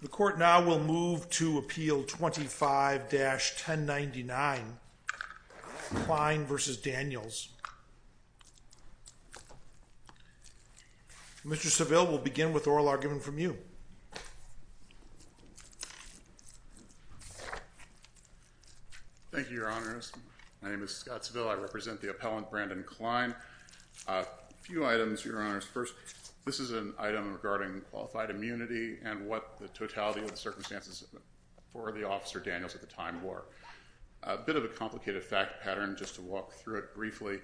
The Court now will move to Appeal 25-1099, Klein v. Daniels. Mr. Seville, we'll begin with oral argument from you. Thank you, Your Honors. My name is Scott Seville. I represent the appellant, Brandon Klein. A few items, Your Honors. First, this is an item regarding qualified immunity and what the totality of the circumstances for the Officer Daniels at the time were. A bit of a complicated fact pattern, just to walk through it briefly.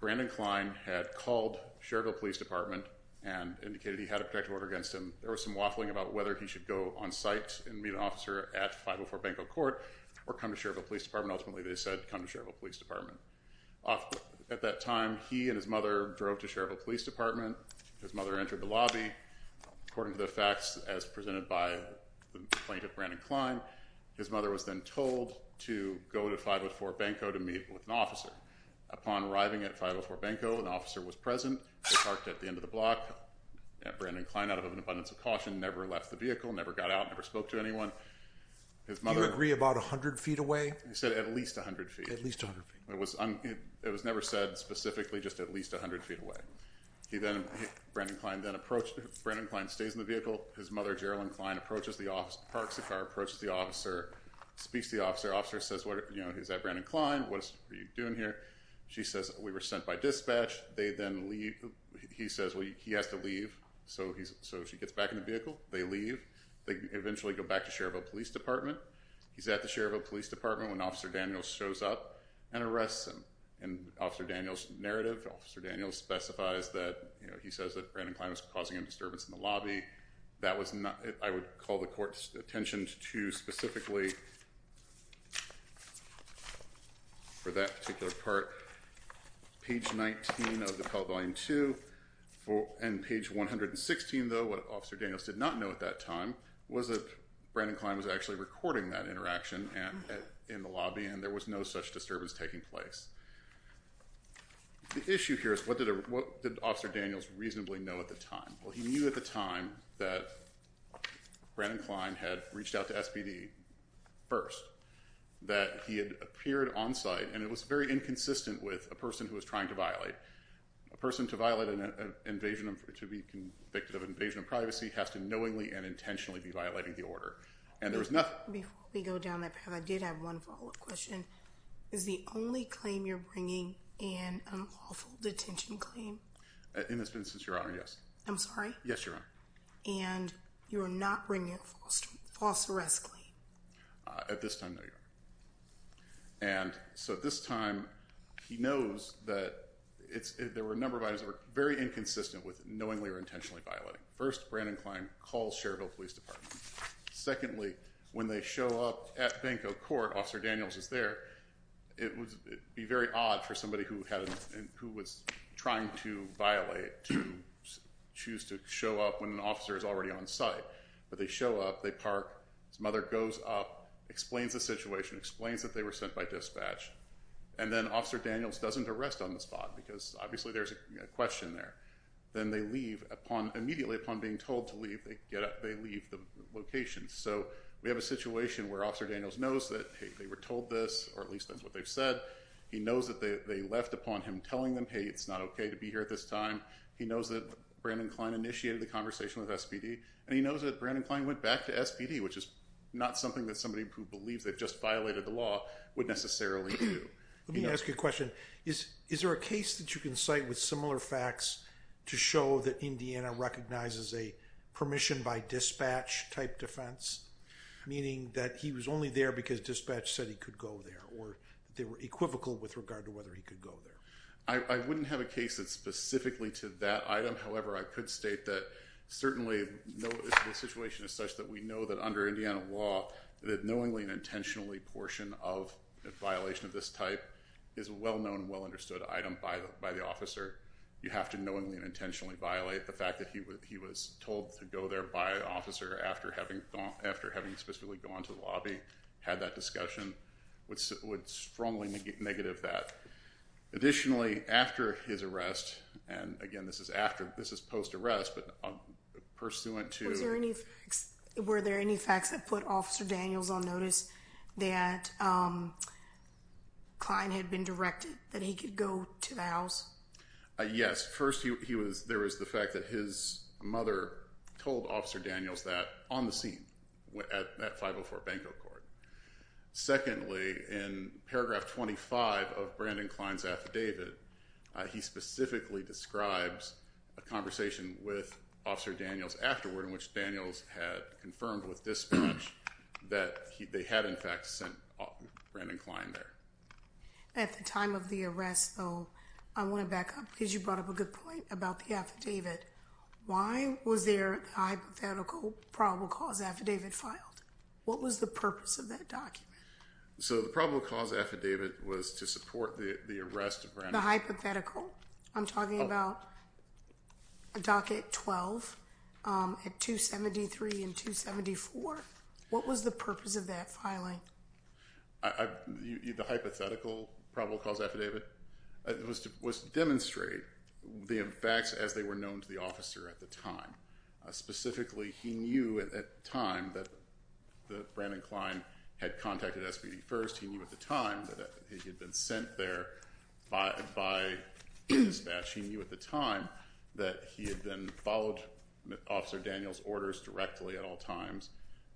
Brandon Klein had called Cherville Police Department and indicated he had a protective order against him. There was some waffling about whether he should go on-site and meet an officer at 504 Banco Court or come to Cherville Police Department. Ultimately, they said, come to Cherville Police Department. At that time, he and his mother drove to Cherville Police Department. His mother entered the lobby. According to the facts, as presented by the plaintiff, Brandon Klein, his mother was then told to go to 504 Banco to meet with an officer. Upon arriving at 504 Banco, an officer was present, parked at the end of the block. Brandon Klein, out of an abundance of caution, never left the vehicle, never got out, never spoke to anyone. His mother— Do you agree about 100 feet away? I said at least 100 feet. At least 100 feet. It was never said specifically just at least 100 feet away. He then—Brandon Klein then approached—Brandon Klein stays in the vehicle. His mother, Geraldine Klein, approaches the officer, parks the car, approaches the officer, speaks to the officer. The officer says, you know, he's at Brandon Klein, what are you doing here? She says, we were sent by dispatch. They then leave—he says, well, he has to leave. So he's—so she gets back in the vehicle. They leave. They eventually go back to Cherville Police Department. He's at the Cherville Police Department when Officer Daniels shows up and arrests him. In Officer Daniels' narrative, Officer Daniels specifies that, you know, he says that Brandon Klein was causing a disturbance in the lobby. That was not—I would call the court's attention to specifically, for that particular part, page 19 of the Pell Volume 2. And page 116, though, what Officer Daniels did not know at that time was that Brandon Klein was supporting that interaction in the lobby and there was no such disturbance taking place. The issue here is what did Officer Daniels reasonably know at the time? Well, he knew at the time that Brandon Klein had reached out to SBD first, that he had appeared on site, and it was very inconsistent with a person who was trying to violate. A person to violate an invasion—to be convicted of an invasion of privacy has to knowingly and intentionally be violating the order. And there was nothing— Before we go down that path, I did have one follow-up question. Is the only claim you're bringing an unlawful detention claim? In this instance, Your Honor, yes. I'm sorry? Yes, Your Honor. And you are not bringing a false arrest claim? At this time, no, Your Honor. And so at this time, he knows that there were a number of items that were very inconsistent with knowingly or intentionally violating. First, Brandon Klein calls Cherville Police Department. Secondly, when they show up at Benko Court, Officer Daniels is there, it would be very odd for somebody who was trying to violate to choose to show up when an officer is already on site. But they show up, they park, his mother goes up, explains the situation, explains that they were sent by dispatch, and then Officer Daniels doesn't arrest on the spot, because obviously there's a question there. Then they leave, immediately upon being told to leave, they leave the location. So we have a situation where Officer Daniels knows that, hey, they were told this, or at least that's what they've said. He knows that they left upon him telling them, hey, it's not okay to be here at this time. He knows that Brandon Klein initiated the conversation with SPD. And he knows that Brandon Klein went back to SPD, which is not something that somebody who believes they've just violated the law would necessarily do. Let me ask you a question. Is there a case that you can cite with similar facts to show that Indiana recognizes a permission by dispatch type defense, meaning that he was only there because dispatch said he could go there, or they were equivocal with regard to whether he could go there? I wouldn't have a case that's specifically to that item. However, I could state that certainly the situation is such that we know that under violation of this type is a well-known and well-understood item by the officer. You have to knowingly and intentionally violate the fact that he was told to go there by an officer after having specifically gone to the lobby, had that discussion, would strongly negative that. Additionally, after his arrest, and again, this is post-arrest, but pursuant to- Were there any facts that put Officer Daniels on notice that Klein had been directed that he could go to the house? Yes. First, there was the fact that his mother told Officer Daniels that on the scene at 504 Banco Court. Secondly, in paragraph 25 of Brandon Klein's affidavit, he specifically describes a conversation with Officer Daniels afterward in which Daniels had confirmed with dispatch that they had in fact sent Brandon Klein there. At the time of the arrest, though, I want to back up because you brought up a good point about the affidavit. Why was there a hypothetical probable cause affidavit filed? What was the purpose of that document? So the probable cause affidavit was to support the arrest of Brandon- The hypothetical? I'm talking about docket 12 at 273 and 274. What was the purpose of that filing? The hypothetical probable cause affidavit was to demonstrate the facts as they were known to the officer at the time. Specifically, he knew at that time that Brandon Klein had contacted SBD first. He knew at the time that he had been sent there by dispatch. He knew at the time that he had then followed Officer Daniels' orders directly at all times.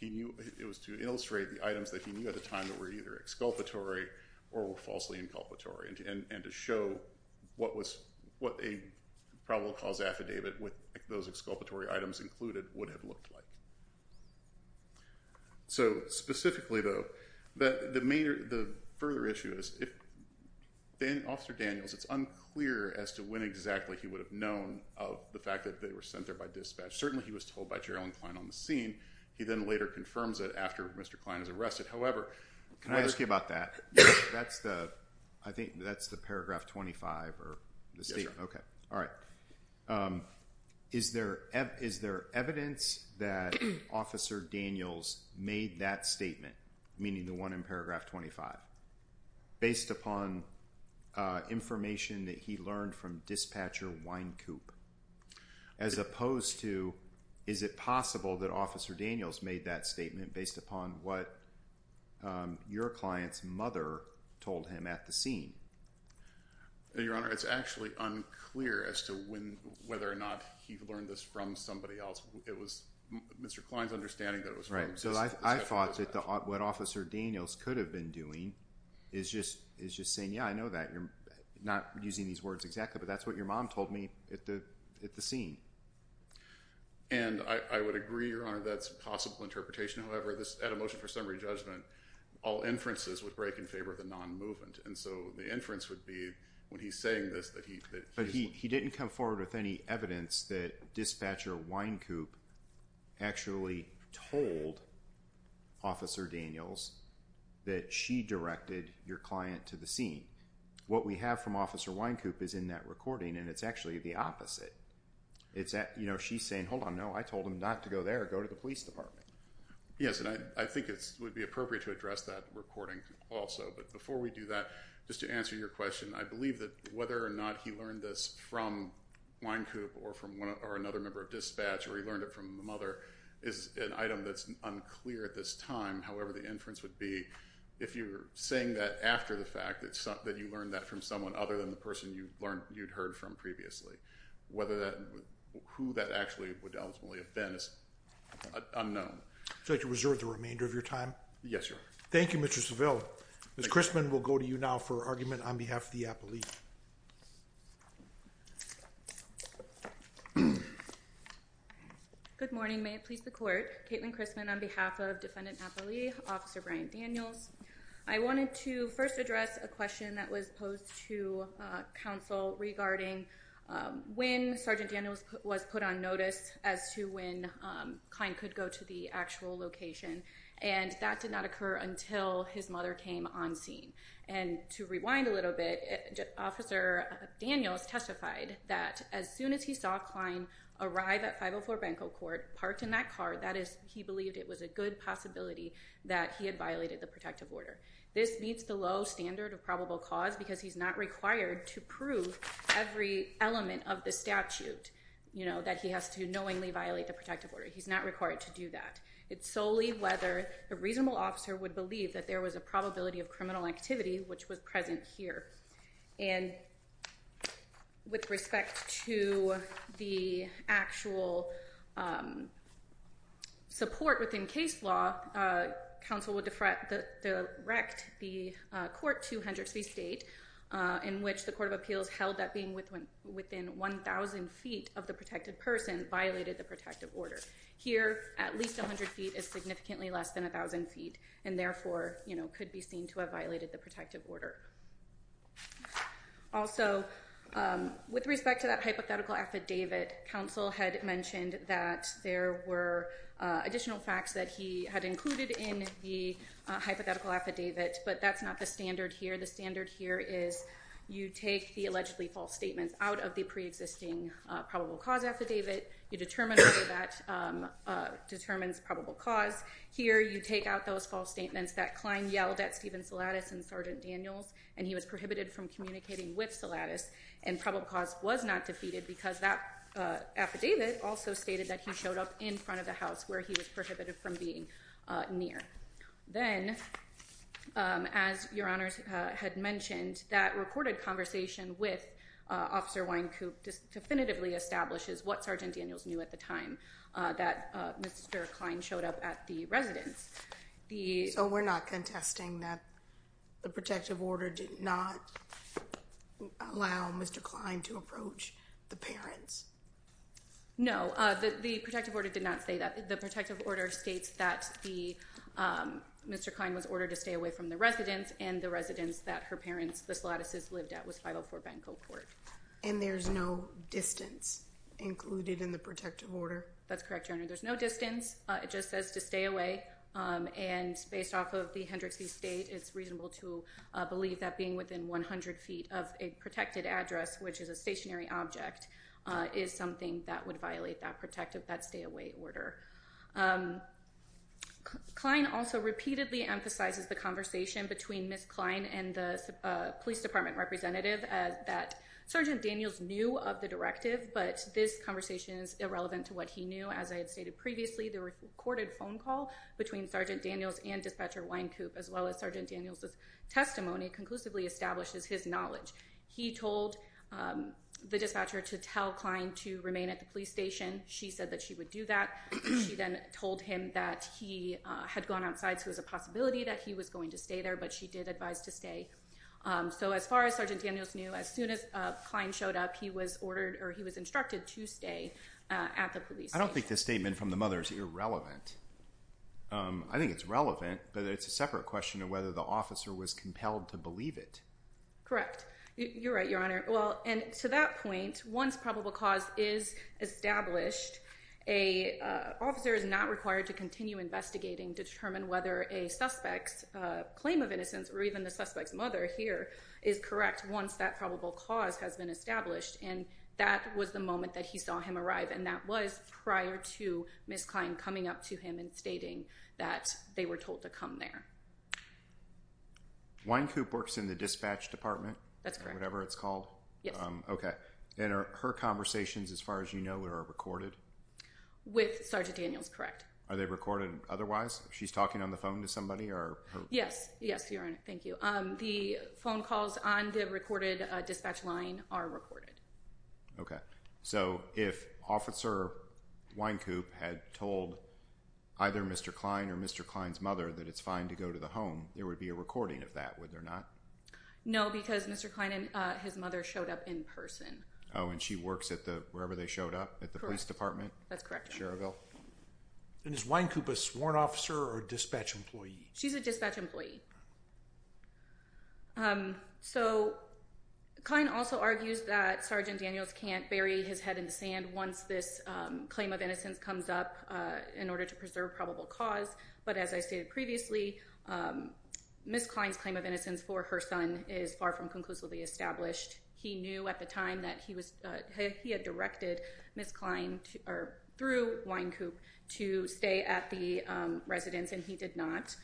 It was to illustrate the items that he knew at the time that were either exculpatory or were falsely inculpatory and to show what a probable cause affidavit with those exculpatory items included would have looked like. So specifically though, the further issue is if Officer Daniels, it's unclear as to when exactly he would have known of the fact that they were sent there by dispatch. Certainly he was told by Gerald Klein on the scene. He then later confirms it after Mr. Klein is arrested. However- Can I ask you about that? Yes. I think that's the paragraph 25 or the statement. Yes, sir. Okay. Alright. Is there evidence that Officer Daniels made that statement, meaning the one in paragraph 25, based upon information that he learned from Dispatcher Wynkoop as opposed to is it possible that Officer Daniels made that statement based upon what your client's mother told him at the scene? Your Honor, it's actually unclear as to whether or not he learned this from somebody else. It was Mr. Klein's understanding that it was from- Right. So I thought that what Officer Daniels could have been doing is just saying, yeah, I know that. You're not using these words exactly, but that's what your mom told me at the scene. And I would agree, Your Honor, that's a possible interpretation. However, at a motion for summary judgment, all inferences would break in favor of the non-movement. And so the inference would be, when he's saying this, that he's- But he didn't come forward with any evidence that Dispatcher Wynkoop actually told Officer Daniels that she directed your client to the scene. What we have from Officer Wynkoop is in that recording, and it's actually the opposite. She's saying, hold on, no, I told him not to go there, go to the police department. Yes, and I think it would be appropriate to address that recording also. But before we do that, just to answer your question, I believe that whether or not he learned this from Wynkoop or another member of Dispatch, or he learned it from the mother, is an item that's unclear at this time. However, the inference would be, if you're saying that after the fact, that you learned that from someone other than the person you'd heard from previously. Who that actually would ultimately have been is unknown. Would you like to reserve the remainder of your time? Yes, Your Honor. Thank you, Mr. Saville. Ms. Chrisman will go to you now for argument on behalf of the appellee. Good morning. May it please the Court. Kaitlin Chrisman on behalf of Defendant Appellee Officer Brian Daniels. I wanted to first address a question that was posed to counsel regarding when Sergeant Daniels was put on notice as to when the client could go to the actual location. And that did not occur until his mother came on scene. And to rewind a little bit, Officer Daniels testified that as soon as he saw Cline arrive at 504 Benko Court, parked in that car, that is, he believed it was a good possibility that he had violated the protective order. This meets the low standard of probable cause because he's not required to prove every element of the statute, you know, that he has to knowingly violate the protective order. He's not required to do that. It's solely whether a reasonable officer would believe that there was a probability of criminal activity which was present here. And with respect to the actual support within case law, counsel would direct the court to Hendrix v. State, in which the Court of Appeals held that being within 1,000 feet of the protected person violated the protective order. Here, at least 100 feet is significantly less than 1,000 feet, and therefore, you know, could be seen to have violated the protective order. Also, with respect to that hypothetical affidavit, counsel had mentioned that there were additional facts that he had included in the hypothetical affidavit, but that's not the standard here. The standard here is you take the allegedly false statements out of the preexisting probable cause affidavit. You determine whether that determines probable cause. Here you take out those false statements that Klein yelled at Steven Salatis and Sergeant Daniels, and he was prohibited from communicating with Salatis. And probable cause was not defeated because that affidavit also stated that he showed up in front of the house where he was prohibited from being near. Then, as Your Honors had mentioned, that recorded conversation with Officer Wynkoop definitively establishes what Sergeant Daniels knew at the time that Mr. Klein showed up at the residence. So we're not contesting that the protective order did not allow Mr. Klein to approach the parents? No, the protective order did not say that. The protective order states that Mr. Klein was ordered to stay away from the residence, and the residence that her parents, the Salatises, lived at was 504 Benko Court. And there's no distance included in the protective order? That's correct, Your Honor. There's no distance. It just says to stay away. And based off of the Hendrix v. State, it's reasonable to believe that being within 100 feet of a protected address, which is a stationary object, is something that would violate that protective, that stay away order. Klein also repeatedly emphasizes the conversation between Ms. Klein and the police department representative that Sergeant Daniels knew of the directive, but this conversation is irrelevant to what he knew. As I had stated previously, the recorded phone call between Sergeant Daniels and Dispatcher Wynkoop, as well as Sergeant Daniels' testimony, conclusively establishes his knowledge. He told the dispatcher to tell Klein to remain at the police station. She said that she would do that. She then told him that he had gone outside, so it was a possibility that he was going to stay there, but she did advise to stay. So as far as Sergeant Daniels knew, as soon as Klein showed up, he was instructed to stay at the police station. I don't think this statement from the mother is irrelevant. I think it's relevant, but it's a separate question of whether the officer was compelled to believe it. Correct. You're right, Your Honor. Well, and to that point, once probable cause is established, an officer is not required to continue investigating to determine whether a suspect's claim of innocence, or even the suspect's mother here, is correct once that probable cause has been established. And that was the moment that he saw him arrive, and that was prior to Ms. Klein coming up to him and stating that they were told to come there. Wynkoop works in the dispatch department? That's correct. Whatever it's called? Yes. Okay. And her conversations, as far as you know, are recorded? With Sergeant Daniels, correct. Are they recorded otherwise? She's talking on the phone to somebody? Yes. Yes. Yes, Your Honor. Thank you. The phone calls on the recorded dispatch line are recorded. Okay. So, if Officer Wynkoop had told either Mr. Klein or Mr. Klein's mother that it's fine to go to the home, there would be a recording of that, would there not? No, because Mr. Klein and his mother showed up in person. Oh, and she works at the, wherever they showed up? Correct. At the police department? That's correct, Your Honor. Cheryville? And is Wynkoop a sworn officer or a dispatch employee? She's a dispatch employee. So, Klein also argues that Sergeant Daniels can't bury his head in the sand once this claim of innocence comes up in order to preserve probable cause, but as I stated previously, Ms. Klein's claim of innocence for her son is far from conclusively established. He knew at the time that he was, he had directed Ms. Klein through Wynkoop to stay at the residence and he did not.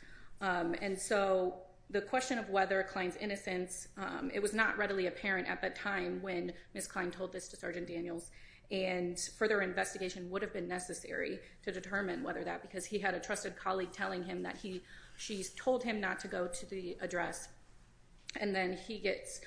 And so, the question of whether Klein's innocence, it was not readily apparent at the time when Ms. Klein told this to Sergeant Daniels and further investigation would have been necessary to determine whether that, because he had a trusted colleague telling him that he, she told him not to go to the address and then he gets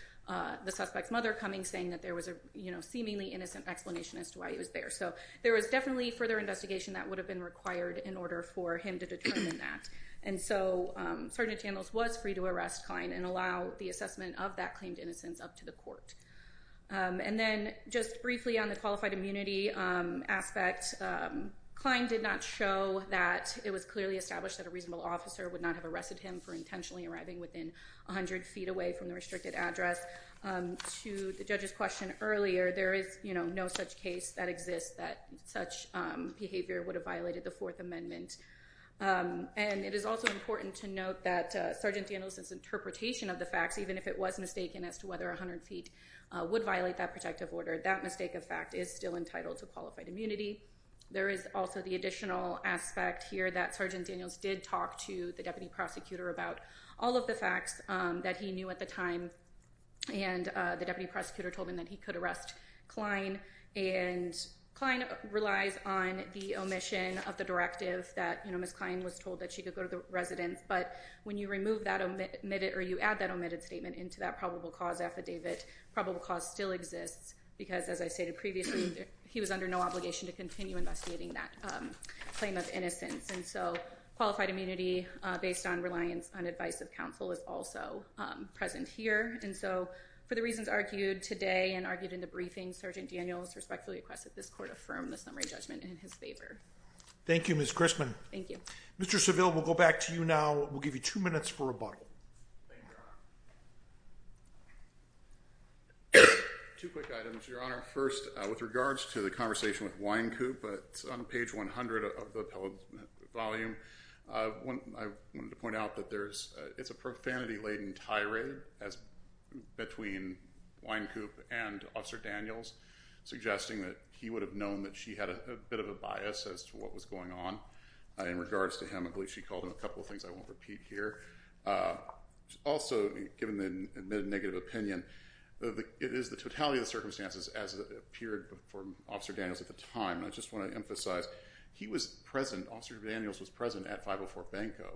the suspect's mother coming saying that there was a seemingly innocent explanation as to why he was there. So, there was definitely further investigation that would have been required in order for him to determine that. And so, Sergeant Daniels was free to arrest Klein and allow the assessment of that claimed innocence up to the court. And then, just briefly on the qualified immunity aspect, Klein did not show that it was clearly established that a reasonable officer would not have arrested him for intentionally arriving within 100 feet away from the restricted address. To the judge's question earlier, there is, you know, no such case that exists that such behavior would have violated the Fourth Amendment. And it is also important to note that Sergeant Daniels' interpretation of the facts, even if it was mistaken as to whether 100 feet would violate that protective order, that mistake of fact is still entitled to qualified immunity. There is also the additional aspect here that Sergeant Daniels did talk to the deputy prosecutor about all of the facts that he knew at the time. And the deputy prosecutor told him that he could arrest Klein. And Klein relies on the omission of the directive that, you know, Ms. Klein was told that she could go to the residence. But when you remove that omitted or you add that omitted statement into that probable cause affidavit, probable cause still exists because, as I stated previously, he was under no obligation to continue investigating that claim of innocence. And so, qualified immunity based on reliance on advice of counsel is also present here. And so, for the reasons argued today and argued in the briefing, Sergeant Daniels respectfully requests that this court affirm the summary judgment in his favor. Thank you, Ms. Grissman. Thank you. Mr. Seville, we'll go back to you now. We'll give you two minutes for rebuttal. Thank you, Your Honor. Two quick items, Your Honor. First, with regards to the conversation with Wynkoop, it's on page 100 of the appellate volume. I wanted to point out that it's a profanity-laden tirade between Wynkoop and Officer Daniels, suggesting that he would have known that she had a bit of a bias as to what was going on in regards to him. I believe she called him a couple of things. I won't repeat here. Also, given the admitted negative opinion, it is the totality of the circumstances as appeared before Officer Daniels at the time. And I just want to emphasize, he was present. Officer Daniels was present at 504-BANCO.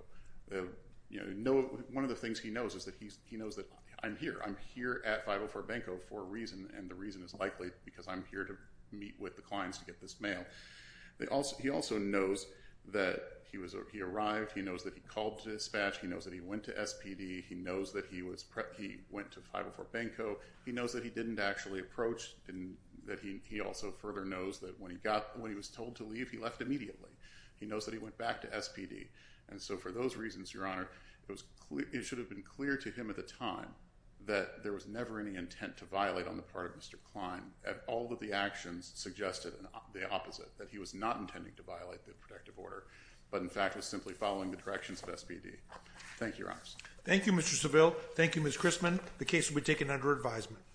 One of the things he knows is that he knows that I'm here. I'm here at 504-BANCO for a reason, and the reason is likely because I'm here to meet with the clients to get this mail. He also knows that he arrived. He knows that he called dispatch. He knows that he went to SPD. He knows that he went to 504-BANCO. He knows that he didn't actually approach. He also further knows that when he was told to leave, he left immediately. He knows that he went back to SPD, and so for those reasons, Your Honor, it should have been clear to him at the time that there was never any intent to violate on the part of Mr. Klein, and all of the actions suggested the opposite, that he was not intending to violate the protective order, but in fact was simply following the directions of SPD. Thank you, Your Honors. Thank you, Mr. Seville. Thank you, Ms. Chrisman. The case will be taken under advisement.